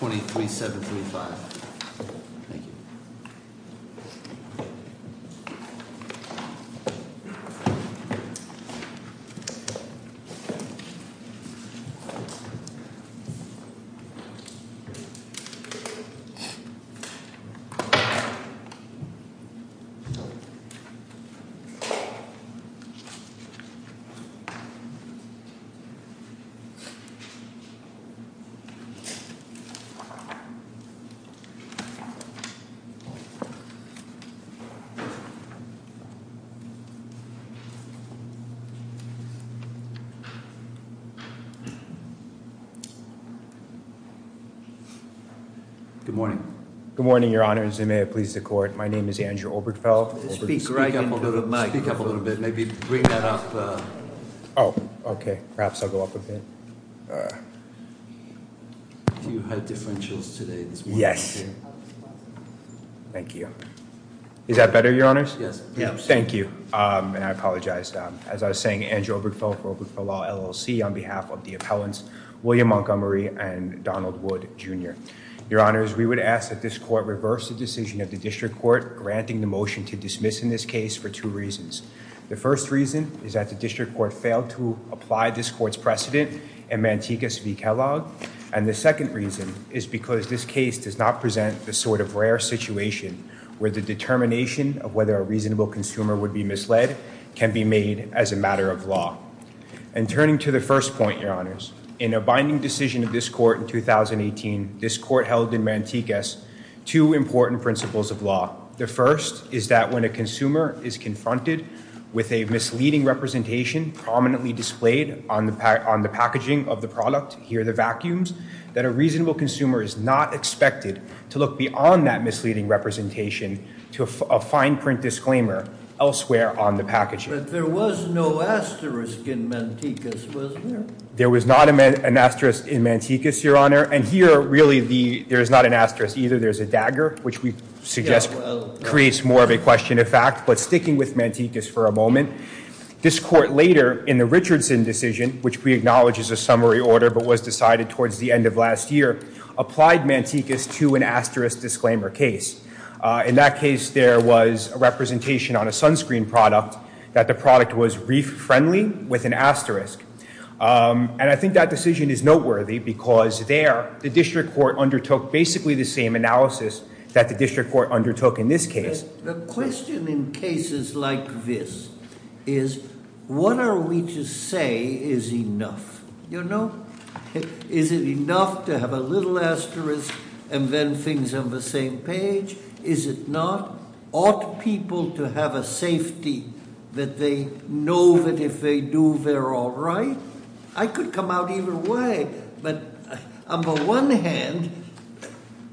23735. Good morning. Good morning, Your Honor. Your Honor, as they may have pleased the court, my name is Andrew Obergefell. Speak up a little bit, speak up a little bit. Maybe bring that up. Oh, okay. Perhaps I'll go up a bit. You had differentials today this morning. Yes. Thank you. Is that better, Your Honors? Yes. Thank you. And I apologize. As I was saying, Andrew Obergefell for Obergefell Law LLC on behalf of the appellants William Montgomery and Donald Wood Jr. Your Honors, we would ask that this court reverse the decision of the district court granting the motion to dismiss in this case for two reasons. The first reason is that the district court failed to apply this court's precedent in Mantegas v. Kellogg. And the second reason is because this case does not present the sort of rare situation where the determination of whether a reasonable consumer would be misled can be made as a matter of law. And turning to the first point, Your Honors, in a binding decision of this court in 2018, this court held in Mantegas two important principles of law. The first is that when a consumer is confronted with a misleading representation prominently displayed on the packaging of the product, here the vacuums, that a reasonable consumer is not expected to look beyond that misleading representation to a fine print disclaimer elsewhere on the packaging. But there was no asterisk in Mantegas, was there? There was not an asterisk in Mantegas, Your Honor. And here, really, there is not an asterisk either. There is a dagger, which we suggest creates more of a question of fact. But sticking with Mantegas for a moment, this court later in the Richardson decision, which we acknowledge is a summary order but was decided towards the end of last year, applied Mantegas to an asterisk disclaimer case. In that case, there was a representation on a sunscreen product that the product was reef-friendly with an asterisk. And I think that decision is noteworthy because there, the district court undertook basically the same analysis that the district court undertook in this case. The question in cases like this is, what are we to say is enough? Is it enough to have a little asterisk and then things on the same page? Is it not? Ought people to have a safety that they know that if they do, they're all right? I could come out either way. But on the one hand,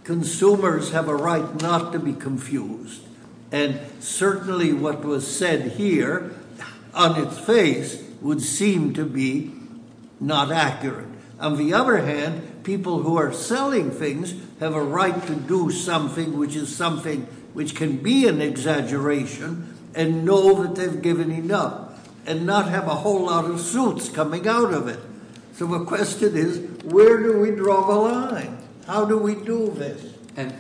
consumers have a right not to be confused. And certainly what was said here on its face would seem to be not accurate. On the other hand, people who are selling things have a right to do something which is something which can be an exaggeration and know that they've given enough and not have a whole lot of suits coming out of it. So the question is, where do we draw the line? How do we do this? And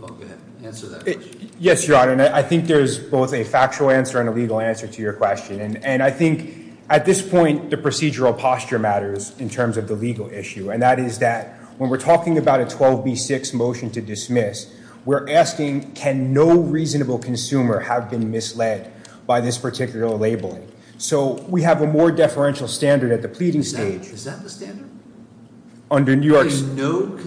go ahead, answer that question. Yes, Your Honor, and I think there's both a factual answer and a legal answer to your question. And I think at this point, the procedural posture matters in terms of the legal issue. And that is that when we're talking about a 12B6 motion to dismiss, we're asking can no reasonable consumer have been misled by this particular labeling? So we have a more deferential standard at the pleading stage. Is that the standard? Under New York's- No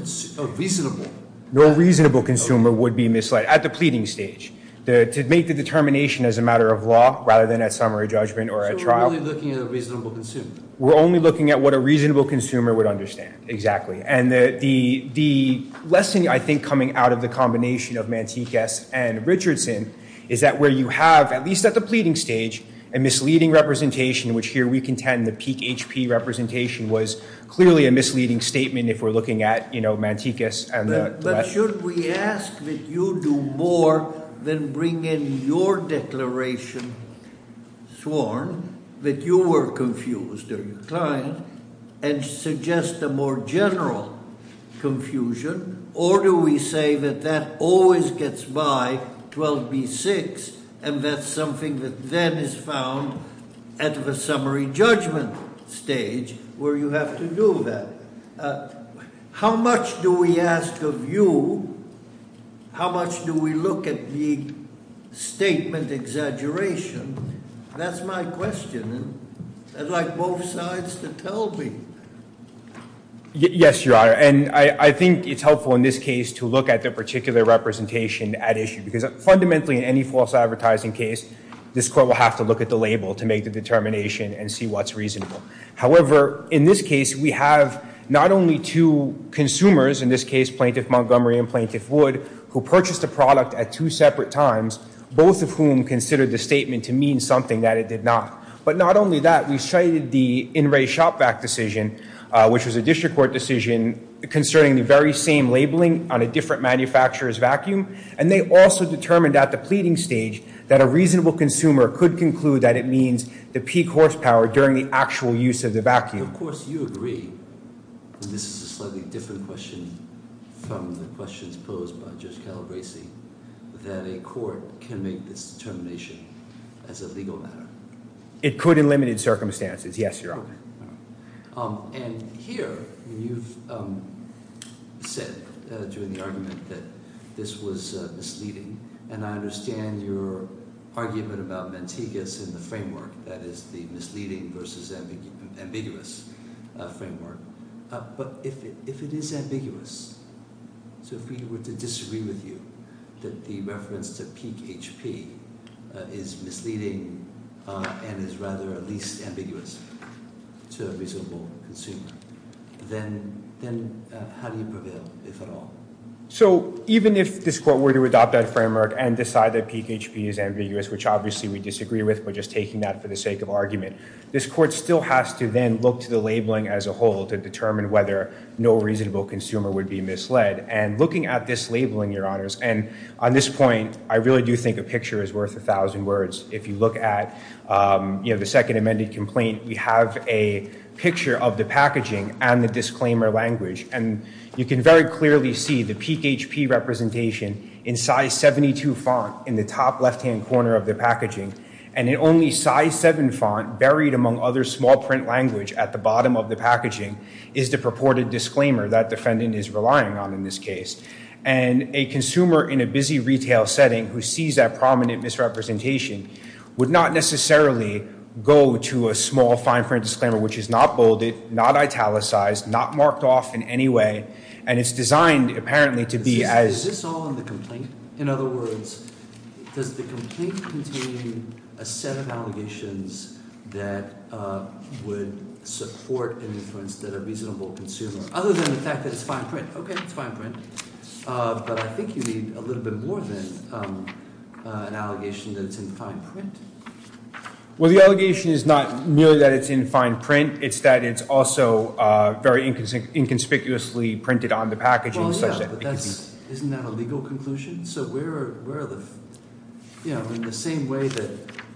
reasonable- No reasonable consumer would be misled at the pleading stage to make the determination as a matter of law rather than a summary judgment or a trial. So we're really looking at a reasonable consumer? We're only looking at what a reasonable consumer would understand, exactly. And the lesson, I think, coming out of the combination of Mantikas and Richardson is that where you have, at least at the pleading stage, a misleading representation, which here we contend the peak HP representation was clearly a misleading statement if we're looking at Mantikas and the rest- But should we ask that you do more than bring in your declaration sworn that you were confused or inclined and suggest a more general confusion? Or do we say that that always gets by 12B6 and that's something that then is found at the summary judgment stage where you have to do that? How much do we ask of you? How much do we look at the statement exaggeration? That's my question. I'd like both sides to tell me. Yes, Your Honor. And I think it's helpful in this case to look at the particular representation at issue because fundamentally in any false advertising case, this court will have to look at the label to make the determination and see what's reasonable. However, in this case, we have not only two consumers, in this case, Plaintiff Montgomery and Plaintiff Wood, who purchased the product at two separate times, both of whom considered the statement to mean something that it did not. But not only that, we cited the In Re Shop Vac decision, which was a district court decision concerning the very same labeling on a different manufacturer's vacuum. And they also determined at the pleading stage that a reasonable consumer could conclude that it means the peak horsepower during the actual use of the vacuum. Of course, you agree, and this is a slightly different question from the questions posed by Judge Calabresi, that a court can make this determination as a legal matter. It could in limited circumstances, yes, Your Honor. And here you've said during the argument that this was misleading, and I understand your argument about Mantegas and the framework that is the misleading versus ambiguous framework. But if it is ambiguous, so if we were to disagree with you that the reference to peak HP is misleading and is rather at least ambiguous, to a reasonable consumer, then how do you prevail, if at all? So even if this court were to adopt that framework and decide that peak HP is ambiguous, which obviously we disagree with, but just taking that for the sake of argument, this court still has to then look to the labeling as a whole to determine whether no reasonable consumer would be misled. And looking at this labeling, Your Honors, and on this point, I really do think a picture is worth a thousand words. If you look at the second amended complaint, we have a picture of the packaging and the disclaimer language. And you can very clearly see the peak HP representation in size 72 font in the top left-hand corner of the packaging. And in only size 7 font, buried among other small print language at the bottom of the packaging, is the purported disclaimer that defendant is relying on in this case. And a consumer in a busy retail setting who sees that prominent misrepresentation would not necessarily go to a small fine print disclaimer which is not bolded, not italicized, not marked off in any way. And it's designed apparently to be as- Is this all in the complaint? In other words, does the complaint contain a set of allegations that would support an inference that a reasonable consumer- Other than the fact that it's fine print. Okay, it's fine print. But I think you need a little bit more than an allegation that it's in fine print. Well, the allegation is not merely that it's in fine print. It's that it's also very inconspicuously printed on the packaging such that- Well, yeah, but isn't that a legal conclusion? So where are the- You know, in the same way that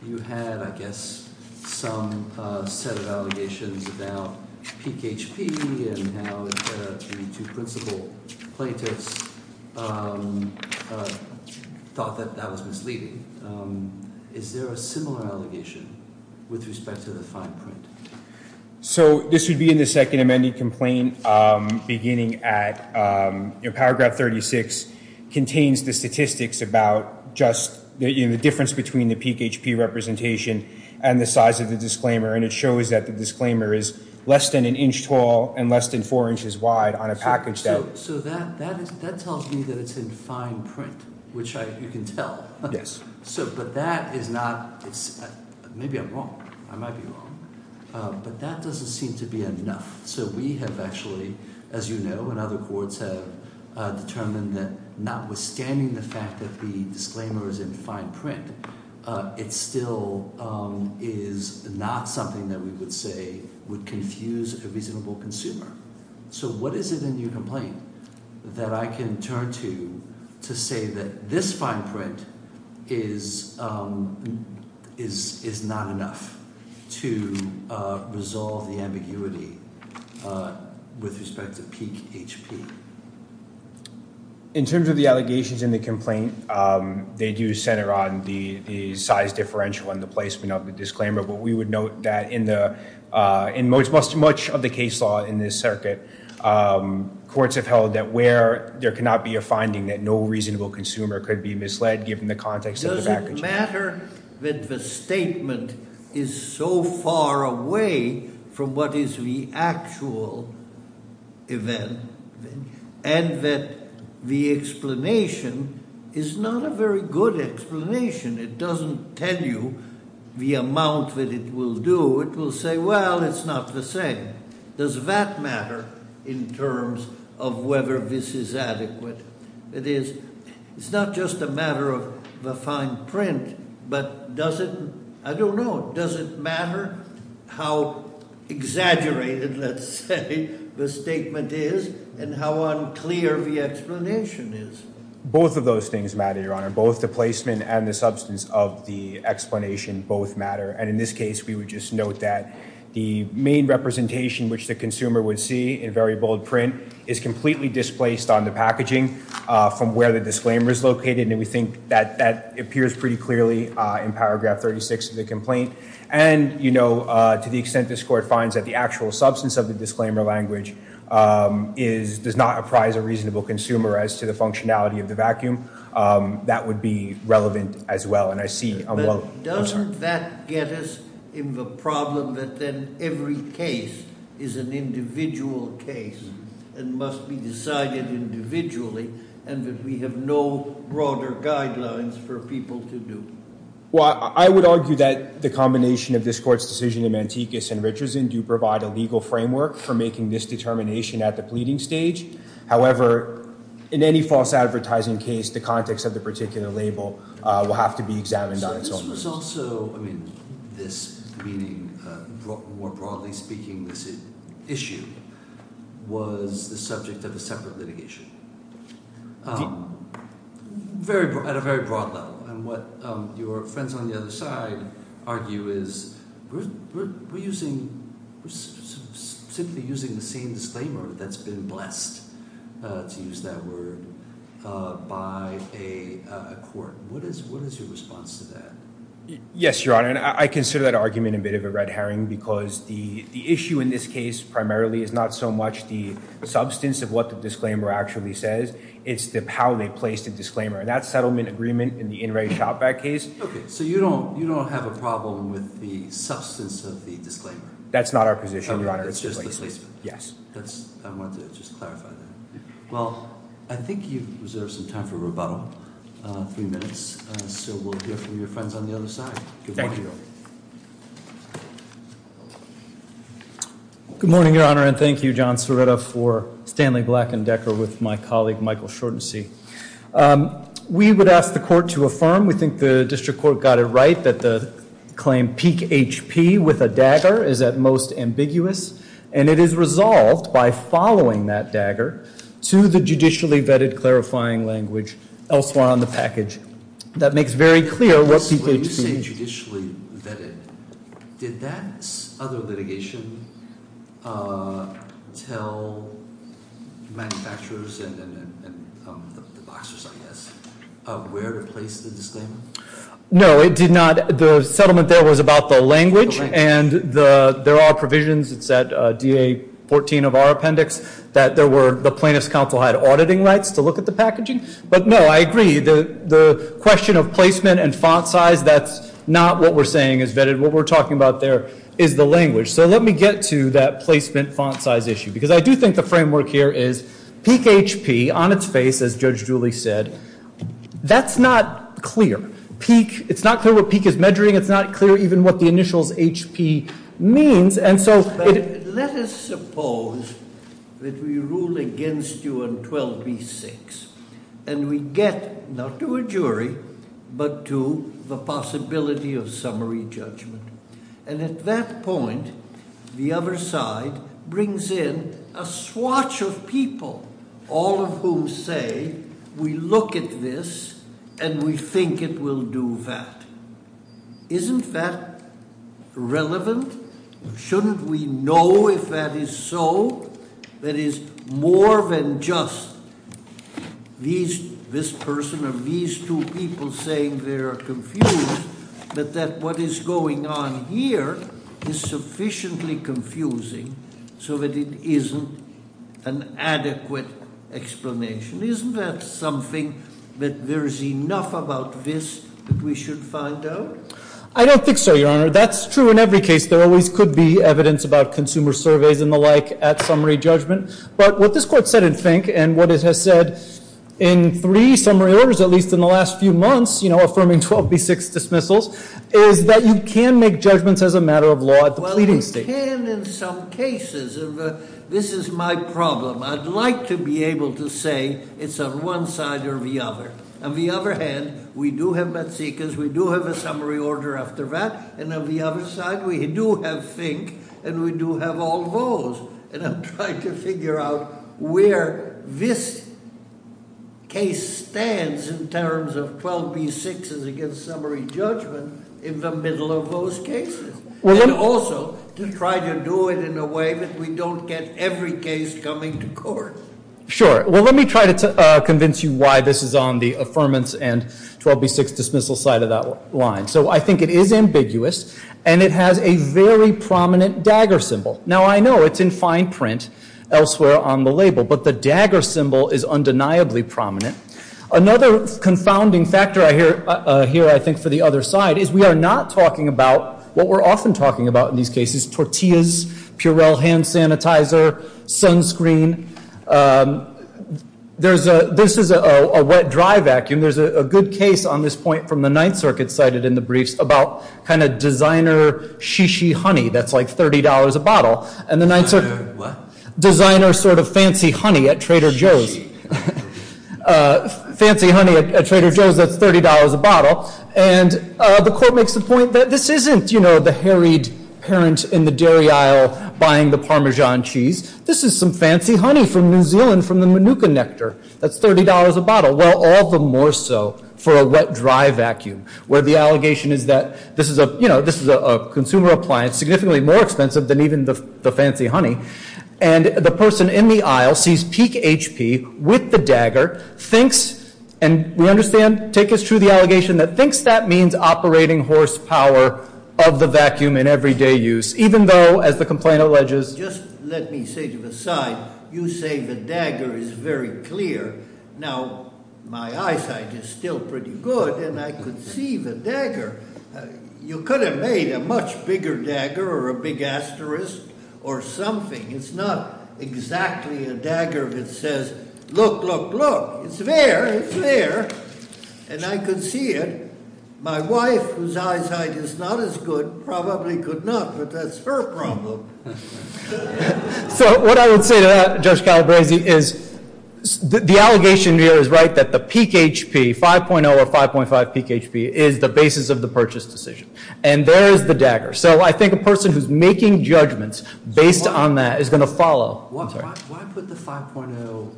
you had, I guess, some set of allegations about peak HP and how the two principal plaintiffs thought that that was misleading. Is there a similar allegation with respect to the fine print? So this would be in the second amended complaint beginning at- Paragraph 36 contains the statistics about just the difference between the peak HP representation and the size of the disclaimer. And it shows that the disclaimer is less than an inch tall and less than four inches wide on a package that- So that tells me that it's in fine print, which you can tell. Yes. But that is not- Maybe I'm wrong. I might be wrong. But that doesn't seem to be enough. So we have actually, as you know, and other courts have determined that notwithstanding the fact that the disclaimer is in fine print, it still is not something that we would say would confuse a reasonable consumer. So what is it in your complaint that I can turn to to say that this fine print is not enough to resolve the ambiguity with respect to peak HP? In terms of the allegations in the complaint, they do center on the size differential and the placement of the disclaimer. But we would note that in much of the case law in this circuit, courts have held that where there cannot be a finding that no reasonable consumer could be misled given the context of the package. Does it matter that the statement is so far away from what is the actual event and that the explanation is not a very good explanation? It doesn't tell you the amount that it will do. It will say, well, it's not the same. Does that matter in terms of whether this is adequate? It is. It's not just a matter of the fine print, but does it- I don't know. Does it matter how exaggerated, let's say, the statement is and how unclear the explanation is? Both of those things matter, Your Honor. Both the placement and the substance of the explanation both matter. And in this case, we would just note that the main representation which the consumer would see in very bold print is completely displaced on the packaging from where the disclaimer is located. And we think that that appears pretty clearly in paragraph 36 of the complaint. And, you know, to the extent this court finds that the actual substance of the disclaimer language does not apprise a reasonable consumer as to the functionality of the vacuum, that would be relevant as well. And I see- But doesn't that get us in the problem that then every case is an individual case and must be decided individually and that we have no broader guidelines for people to do? Well, I would argue that the combination of this court's decision in Mantikis and Richardson do provide a legal framework for making this determination at the pleading stage. However, in any false advertising case, the context of the particular label will have to be examined on its own. So this was also – I mean, this meaning more broadly speaking this issue was the subject of a separate litigation at a very broad level. And what your friends on the other side argue is we're using – we're simply using the same disclaimer that's been blessed, to use that word, by a court. What is your response to that? Yes, Your Honor, and I consider that argument a bit of a red herring because the issue in this case primarily is not so much the substance of what the disclaimer actually says. It's how they placed the disclaimer. And that settlement agreement in the In re Shop Back case- Okay. So you don't have a problem with the substance of the disclaimer? That's not our position, Your Honor. It's just the placement? Yes. I want to just clarify that. Well, I think you've reserved some time for rebuttal, three minutes. So we'll hear from your friends on the other side. Thank you. Good morning, Your Honor. And thank you, John Cerretta, for Stanley Black and Decker with my colleague Michael Shortensee. We would ask the court to affirm, we think the district court got it right, that the claim peak HP with a dagger is at most ambiguous. And it is resolved by following that dagger to the judicially vetted clarifying language elsewhere on the package. That makes very clear what peak HP- When you say judicially vetted, did that other litigation tell manufacturers and the boxers, I guess, where to place the disclaimer? No, it did not. The settlement there was about the language. And there are provisions. It's at DA 14 of our appendix that the plaintiff's counsel had auditing rights to look at the packaging. But, no, I agree. The question of placement and font size, that's not what we're saying is vetted. What we're talking about there is the language. So let me get to that placement font size issue. Because I do think the framework here is peak HP on its face, as Judge Dooley said, that's not clear. Peak, it's not clear what peak is measuring. It's not clear even what the initials HP means. Let us suppose that we rule against you on 12B6. And we get, not to a jury, but to the possibility of summary judgment. And at that point, the other side brings in a swatch of people. All of whom say, we look at this and we think it will do that. Isn't that relevant? Shouldn't we know if that is so? That is, more than just this person or these two people saying they are confused. But that what is going on here is sufficiently confusing so that it isn't an adequate explanation. Isn't that something that there is enough about this that we should find out? I don't think so, Your Honor. That's true in every case. There always could be evidence about consumer surveys and the like at summary judgment. But what this court said in Fink and what it has said in three summary orders, at least in the last few months, affirming 12B6 dismissals, is that you can make judgments as a matter of law at the pleading stage. Well, you can in some cases. This is my problem. I'd like to be able to say it's on one side or the other. On the other hand, we do have Metsikas, we do have a summary order after that. And on the other side, we do have Fink, and we do have all those. And I'm trying to figure out where this case stands in terms of 12B6s against summary judgment in the middle of those cases. And also to try to do it in a way that we don't get every case coming to court. Sure. Well, let me try to convince you why this is on the affirmance and 12B6 dismissal side of that line. So I think it is ambiguous, and it has a very prominent dagger symbol. Now, I know it's in fine print elsewhere on the label, but the dagger symbol is undeniably prominent. Another confounding factor here, I think, for the other side is we are not talking about what we're often talking about in these cases, tortillas, Purell hand sanitizer, sunscreen. This is a wet-dry vacuum. There's a good case on this point from the Ninth Circuit cited in the briefs about kind of designer she-she honey that's like $30 a bottle. What? Designer sort of fancy honey at Trader Joe's. Fancy honey at Trader Joe's that's $30 a bottle. And the court makes the point that this isn't, you know, the harried parent in the dairy aisle buying the Parmesan cheese. This is some fancy honey from New Zealand from the Manuka nectar that's $30 a bottle. Well, all the more so for a wet-dry vacuum where the allegation is that this is a, you know, this is a consumer appliance significantly more expensive than even the fancy honey. And the person in the aisle sees peak HP with the dagger, thinks, and we understand, take as true the allegation that thinks that means operating horsepower of the vacuum in everyday use, even though, as the complaint alleges. Just let me say to the side, you say the dagger is very clear. Now, my eyesight is still pretty good, and I could see the dagger. You could have made a much bigger dagger or a big asterisk or something. It's not exactly a dagger that says, look, look, look. It's there. It's there. And I could see it. My wife, whose eyesight is not as good, probably could not, but that's her problem. So what I would say to that, Judge Calabresi, is the allegation here is right, that the peak HP, 5.0 or 5.5 peak HP, is the basis of the purchase decision. And there is the dagger. So I think a person who's making judgments based on that is going to follow. Why put the 5.0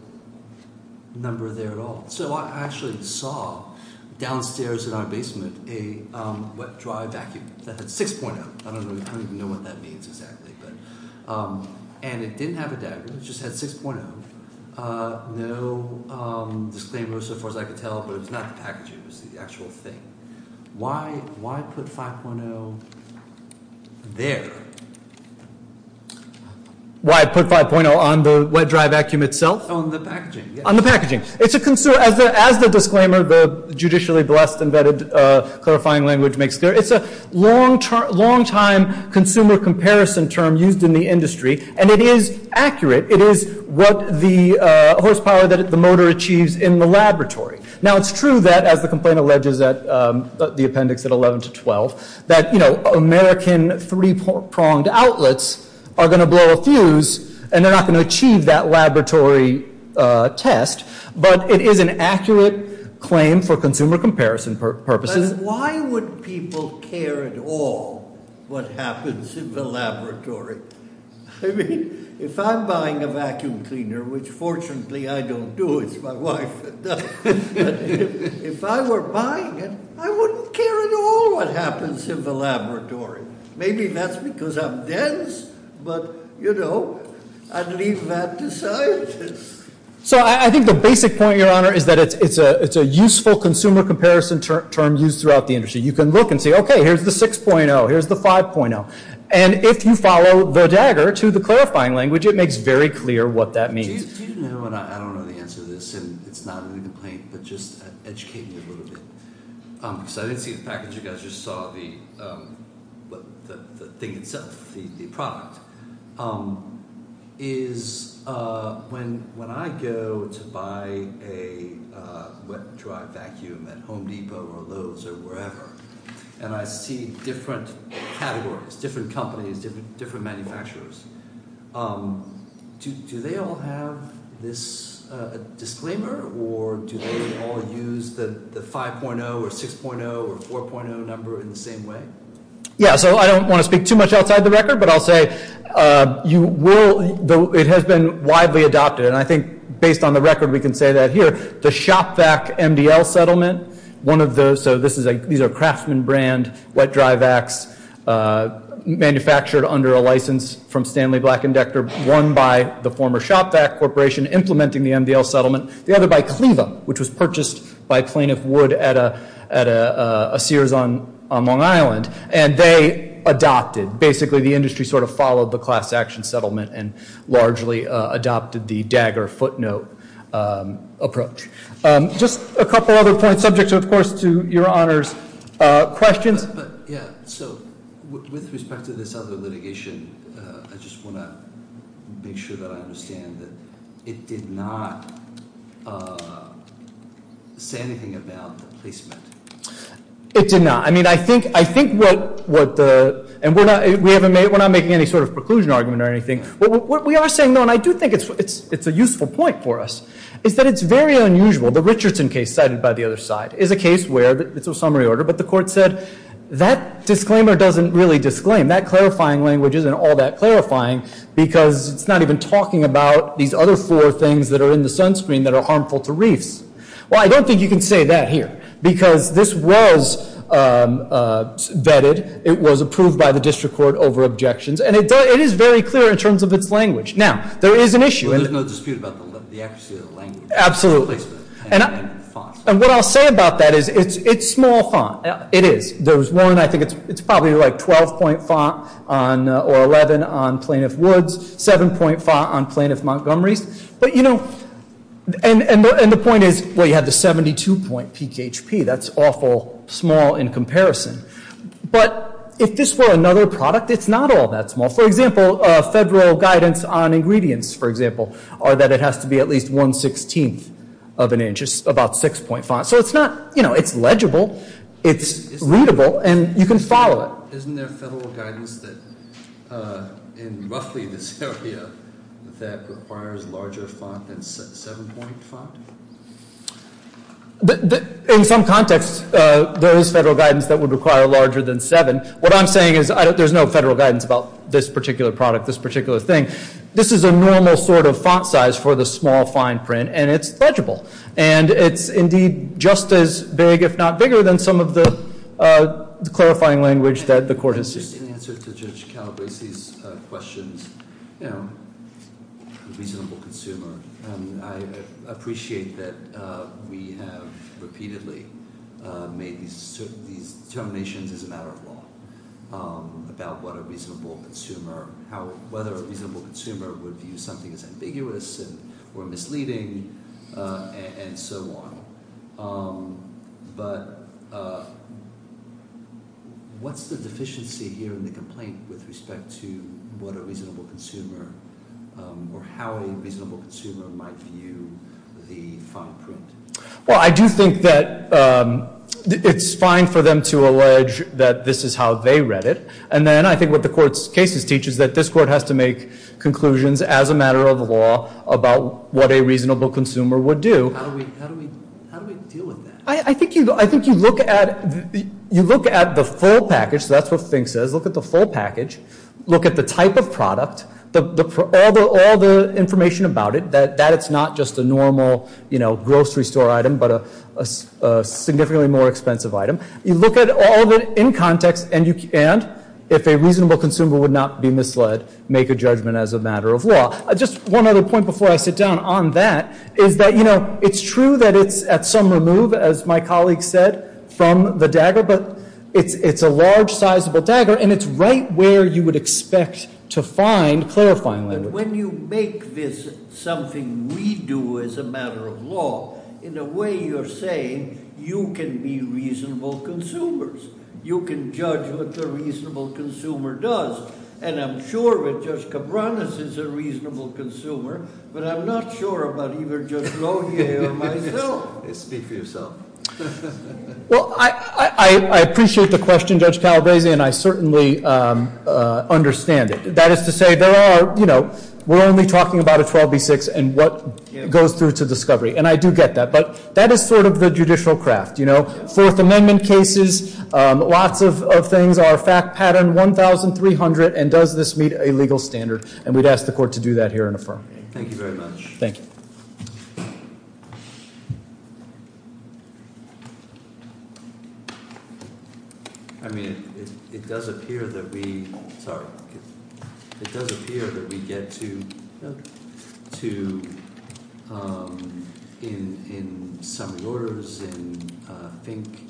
number there at all? So I actually saw downstairs in our basement a wet-dry vacuum that had 6.0. I don't even know what that means exactly. And it didn't have a dagger. It just had 6.0. No disclaimer so far as I could tell, but it was not the packaging. It was the actual thing. Why put 5.0 there? Why put 5.0 on the wet-dry vacuum itself? On the packaging, yes. On the packaging. As the disclaimer, the judicially blessed embedded clarifying language makes clear, it's a long-time consumer comparison term used in the industry, and it is accurate. It is what the horsepower that the motor achieves in the laboratory. Now, it's true that, as the complaint alleges at the appendix at 11 to 12, that, you know, American three-pronged outlets are going to blow a fuse, and they're not going to achieve that laboratory test. But it is an accurate claim for consumer comparison purposes. Why would people care at all what happens in the laboratory? I mean, if I'm buying a vacuum cleaner, which fortunately I don't do, it's my wife that does, if I were buying it, I wouldn't care at all what happens in the laboratory. Maybe that's because I'm dense, but, you know, I'd leave that to scientists. So I think the basic point, Your Honor, is that it's a useful consumer comparison term used throughout the industry. You can look and say, okay, here's the 6.0. Here's the 5.0. And if you follow the dagger to the clarifying language, it makes very clear what that means. Do you know, and I don't know the answer to this, and it's not a complaint, but just educate me a little bit. Because I didn't see the package. You guys just saw the thing itself, the product. Is when I go to buy a wet and dry vacuum at Home Depot or Lowe's or wherever, and I see different categories, different companies, different manufacturers, do they all have this disclaimer, or do they all use the 5.0 or 6.0 or 4.0 number in the same way? Yeah, so I don't want to speak too much outside the record, but I'll say it has been widely adopted, and I think based on the record we can say that here. The Shopvac MDL settlement, one of those, so these are Craftsman brand wet-dry vacs manufactured under a license from Stanley Black & Dechter, one by the former Shopvac Corporation implementing the MDL settlement, the other by Cleveham, which was purchased by plaintiff Wood at a Sears on Long Island. And they adopted, basically the industry sort of followed the class action settlement and largely adopted the dagger footnote approach. Just a couple other points, subject, of course, to your Honor's questions. Yeah, so with respect to this other litigation, I just want to make sure that I understand that it did not say anything about the placement. It did not. I mean, I think what the, and we're not making any sort of preclusion argument or anything. What we are saying, though, and I do think it's a useful point for us, is that it's very unusual. The Richardson case cited by the other side is a case where, it's a summary order, but the court said that disclaimer doesn't really disclaim. That clarifying language isn't all that clarifying because it's not even talking about these other four things that are in the sunscreen that are harmful to reefs. Well, I don't think you can say that here because this was vetted. It was approved by the district court over objections. And it is very clear in terms of its language. Now, there is an issue. There's no dispute about the accuracy of the language. Absolutely. And the font. And what I'll say about that is it's small font. It is. There was one, I think it's probably like 12-point font or 11 on Plaintiff Woods, 7-point font on Plaintiff Montgomery's. But, you know, and the point is, well, you have the 72-point PKHP. That's awful small in comparison. But if this were another product, it's not all that small. For example, federal guidance on ingredients, for example, are that it has to be at least 1-16th of an inch. It's about 6-point font. So it's not, you know, it's legible. It's readable. And you can follow it. Isn't there federal guidance in roughly this area that requires larger font than 7-point font? In some contexts, there is federal guidance that would require larger than 7. What I'm saying is there's no federal guidance about this particular product, this particular thing. This is a normal sort of font size for the small fine print, and it's legible. And it's indeed just as big, if not bigger, than some of the clarifying language that the court has seen. Just in answer to Judge Calabresi's questions, you know, reasonable consumer, I appreciate that we have repeatedly made these determinations as a matter of law about what a reasonable consumer, whether a reasonable consumer would view something as ambiguous or misleading and so on. But what's the deficiency here in the complaint with respect to what a reasonable consumer or how a reasonable consumer might view the fine print? Well, I do think that it's fine for them to allege that this is how they read it. And then I think what the court's cases teach is that this court has to make conclusions as a matter of law about what a reasonable consumer would do. How do we deal with that? I think you look at the full package. That's what the thing says. Look at the full package. Look at the type of product. All the information about it, that it's not just a normal, you know, grocery store item, but a significantly more expensive item. You look at all of it in context, and if a reasonable consumer would not be misled, make a judgment as a matter of law. Just one other point before I sit down on that is that, you know, it's true that it's at some remove, as my colleague said, from the dagger, but it's a large, sizable dagger, and it's right where you would expect to find clarifying language. And when you make this something we do as a matter of law, in a way you're saying you can be reasonable consumers. You can judge what the reasonable consumer does. And I'm sure that Judge Cabranes is a reasonable consumer, but I'm not sure about either Judge Lohier or myself. Speak for yourself. Well, I appreciate the question, Judge Calabresi, and I certainly understand it. That is to say, there are, you know, we're only talking about a 12B6 and what goes through to discovery, and I do get that. But that is sort of the judicial craft, you know? Fourth Amendment cases, lots of things are fact pattern 1,300, and does this meet a legal standard? And we'd ask the court to do that here and affirm. Thank you very much. Thank you. I mean, it does appear that we get to in summary orders and think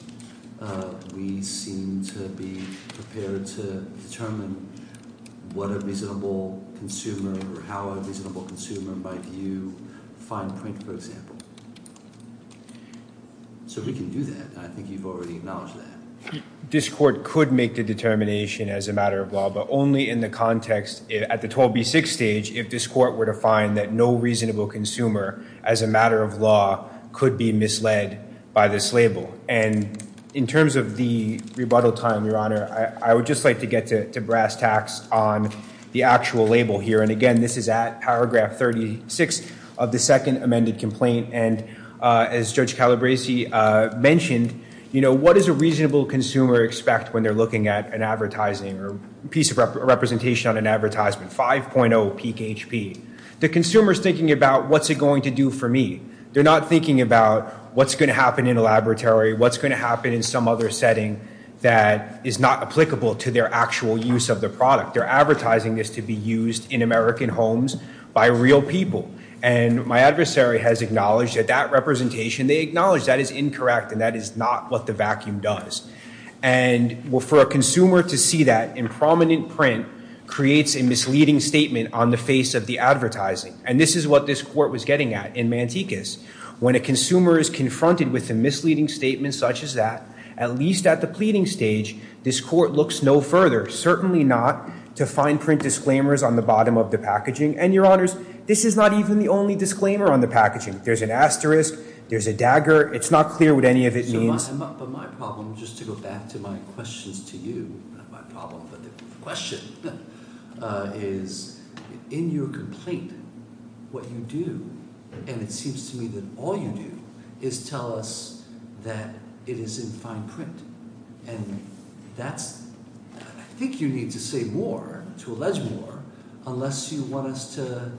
we seem to be prepared to determine what a reasonable consumer might view fine print, for example. So we can do that. I think you've already acknowledged that. This court could make the determination as a matter of law, but only in the context at the 12B6 stage, if this court were to find that no reasonable consumer as a matter of law could be misled by this label. And in terms of the rebuttal time, Your Honor, I would just like to get to brass tacks on the actual label here. And again, this is at paragraph 36 of the second amended complaint. And as Judge Calabresi mentioned, you know, what does a reasonable consumer expect when they're looking at an advertising or piece of representation on an advertisement, 5.0 peak HP? The consumer is thinking about what's it going to do for me. They're not thinking about what's going to happen in a laboratory, what's going to happen in some other setting that is not applicable to their actual use of the product. They're advertising this to be used in American homes by real people. And my adversary has acknowledged that that representation, they acknowledge that is incorrect and that is not what the vacuum does. And for a consumer to see that in prominent print creates a misleading statement on the face of the advertising. And this is what this court was getting at in Mantecas. When a consumer is confronted with a misleading statement such as that, at least at the pleading stage, this court looks no further, certainly not, to fine print disclaimers on the bottom of the packaging. And, Your Honors, this is not even the only disclaimer on the packaging. There's an asterisk, there's a dagger. It's not clear what any of it means. But my problem, just to go back to my questions to you, not my problem but the question, is in your complaint, what you do, and it seems to me that all you do is tell us that it is in fine print. And that's – I think you need to say more, to allege more, unless you want us to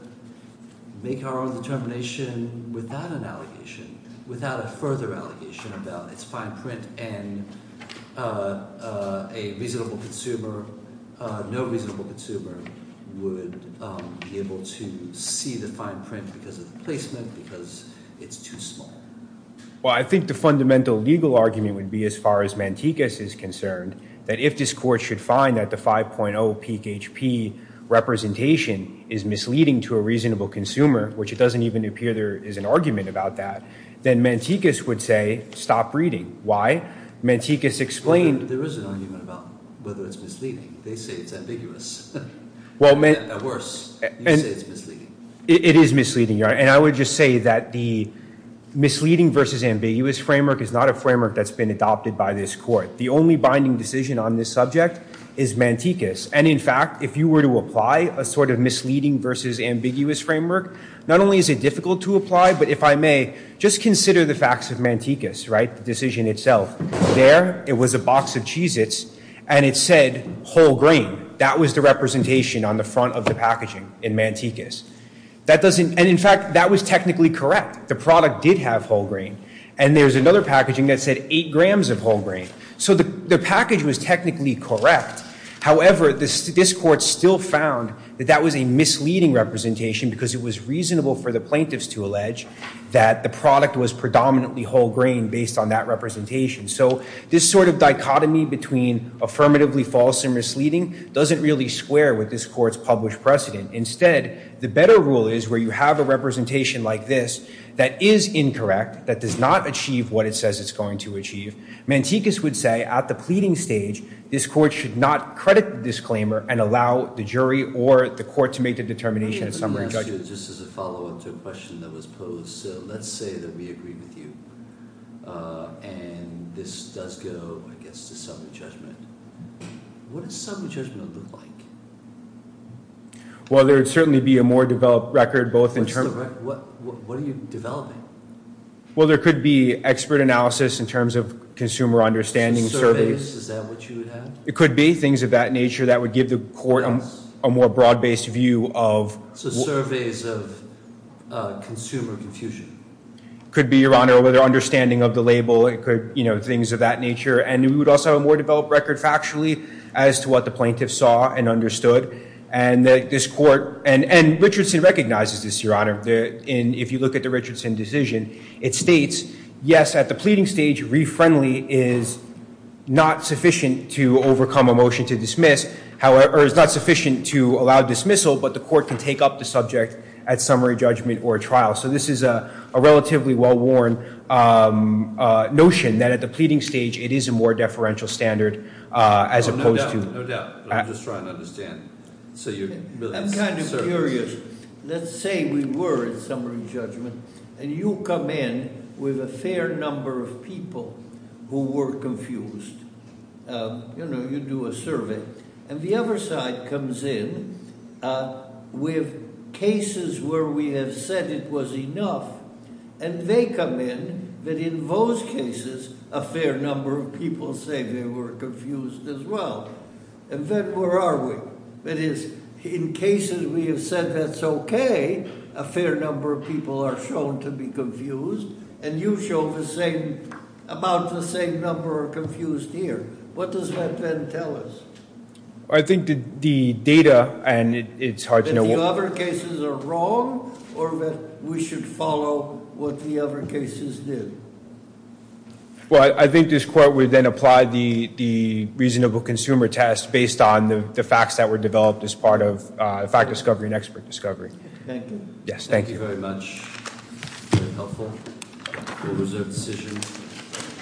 make our own determination without an allegation, without a further allegation about its fine print and a reasonable consumer, no reasonable consumer would be able to see the fine print because of the placement, because it's too small. Well, I think the fundamental legal argument would be, as far as Mantecas is concerned, that if this court should find that the 5.0 peak HP representation is misleading to a reasonable consumer, which it doesn't even appear there is an argument about that, then Mantecas would say, stop reading. Why? Mantecas explained – Well, there is an argument about whether it's misleading. They say it's ambiguous. At worst, you say it's misleading. It is misleading, Your Honor, and I would just say that the misleading versus ambiguous framework is not a framework that's been adopted by this court. The only binding decision on this subject is Mantecas. And, in fact, if you were to apply a sort of misleading versus ambiguous framework, not only is it difficult to apply, but if I may, just consider the facts of Mantecas, right, the decision itself. There, it was a box of Cheez-Its, and it said whole grain. That was the representation on the front of the packaging in Mantecas. That doesn't – and, in fact, that was technically correct. The product did have whole grain, and there's another packaging that said eight grams of whole grain. So the package was technically correct. However, this court still found that that was a misleading representation because it was reasonable for the plaintiffs to allege that the product was predominantly whole grain based on that representation. So this sort of dichotomy between affirmatively false and misleading doesn't really square with this court's published precedent. Instead, the better rule is where you have a representation like this that is incorrect, that does not achieve what it says it's going to achieve, Mantecas would say at the pleading stage, this court should not credit the disclaimer and allow the jury or the court to make the determination of summary judgment. Just as a follow-up to a question that was posed, let's say that we agree with you, and this does go, I guess, to summary judgment. What does summary judgment look like? Well, there would certainly be a more developed record both in terms of – What are you developing? Well, there could be expert analysis in terms of consumer understanding surveys. So surveys, is that what you would have? It could be things of that nature that would give the court a more broad-based view of – So surveys of consumer confusion. It could be, Your Honor, whether understanding of the label, things of that nature. And we would also have a more developed record factually as to what the plaintiffs saw and understood, and this court – and Richardson recognizes this, Your Honor. If you look at the Richardson decision, it states, yes, at the pleading stage, re-friendly is not sufficient to overcome a motion to dismiss, or is not sufficient to allow dismissal, but the court can take up the subject at summary judgment or trial. So this is a relatively well-worn notion that at the pleading stage, it is a more deferential standard as opposed to – No doubt, no doubt. I'm just trying to understand. I'm kind of curious. Let's say we were at summary judgment, and you come in with a fair number of people who were confused. You know, you do a survey, and the other side comes in with cases where we have said it was enough, and they come in, but in those cases, a fair number of people say they were confused as well. And then where are we? That is, in cases we have said that's okay, a fair number of people are shown to be confused, and you show the same – about the same number are confused here. What does that then tell us? I think the data – and it's hard to know what – That the other cases are wrong, or that we should follow what the other cases did? Well, I think this court would then apply the reasonable consumer test based on the facts that were developed as part of fact discovery and expert discovery. Thank you. Yes, thank you. Thank you very much. Very helpful. We'll reserve the session.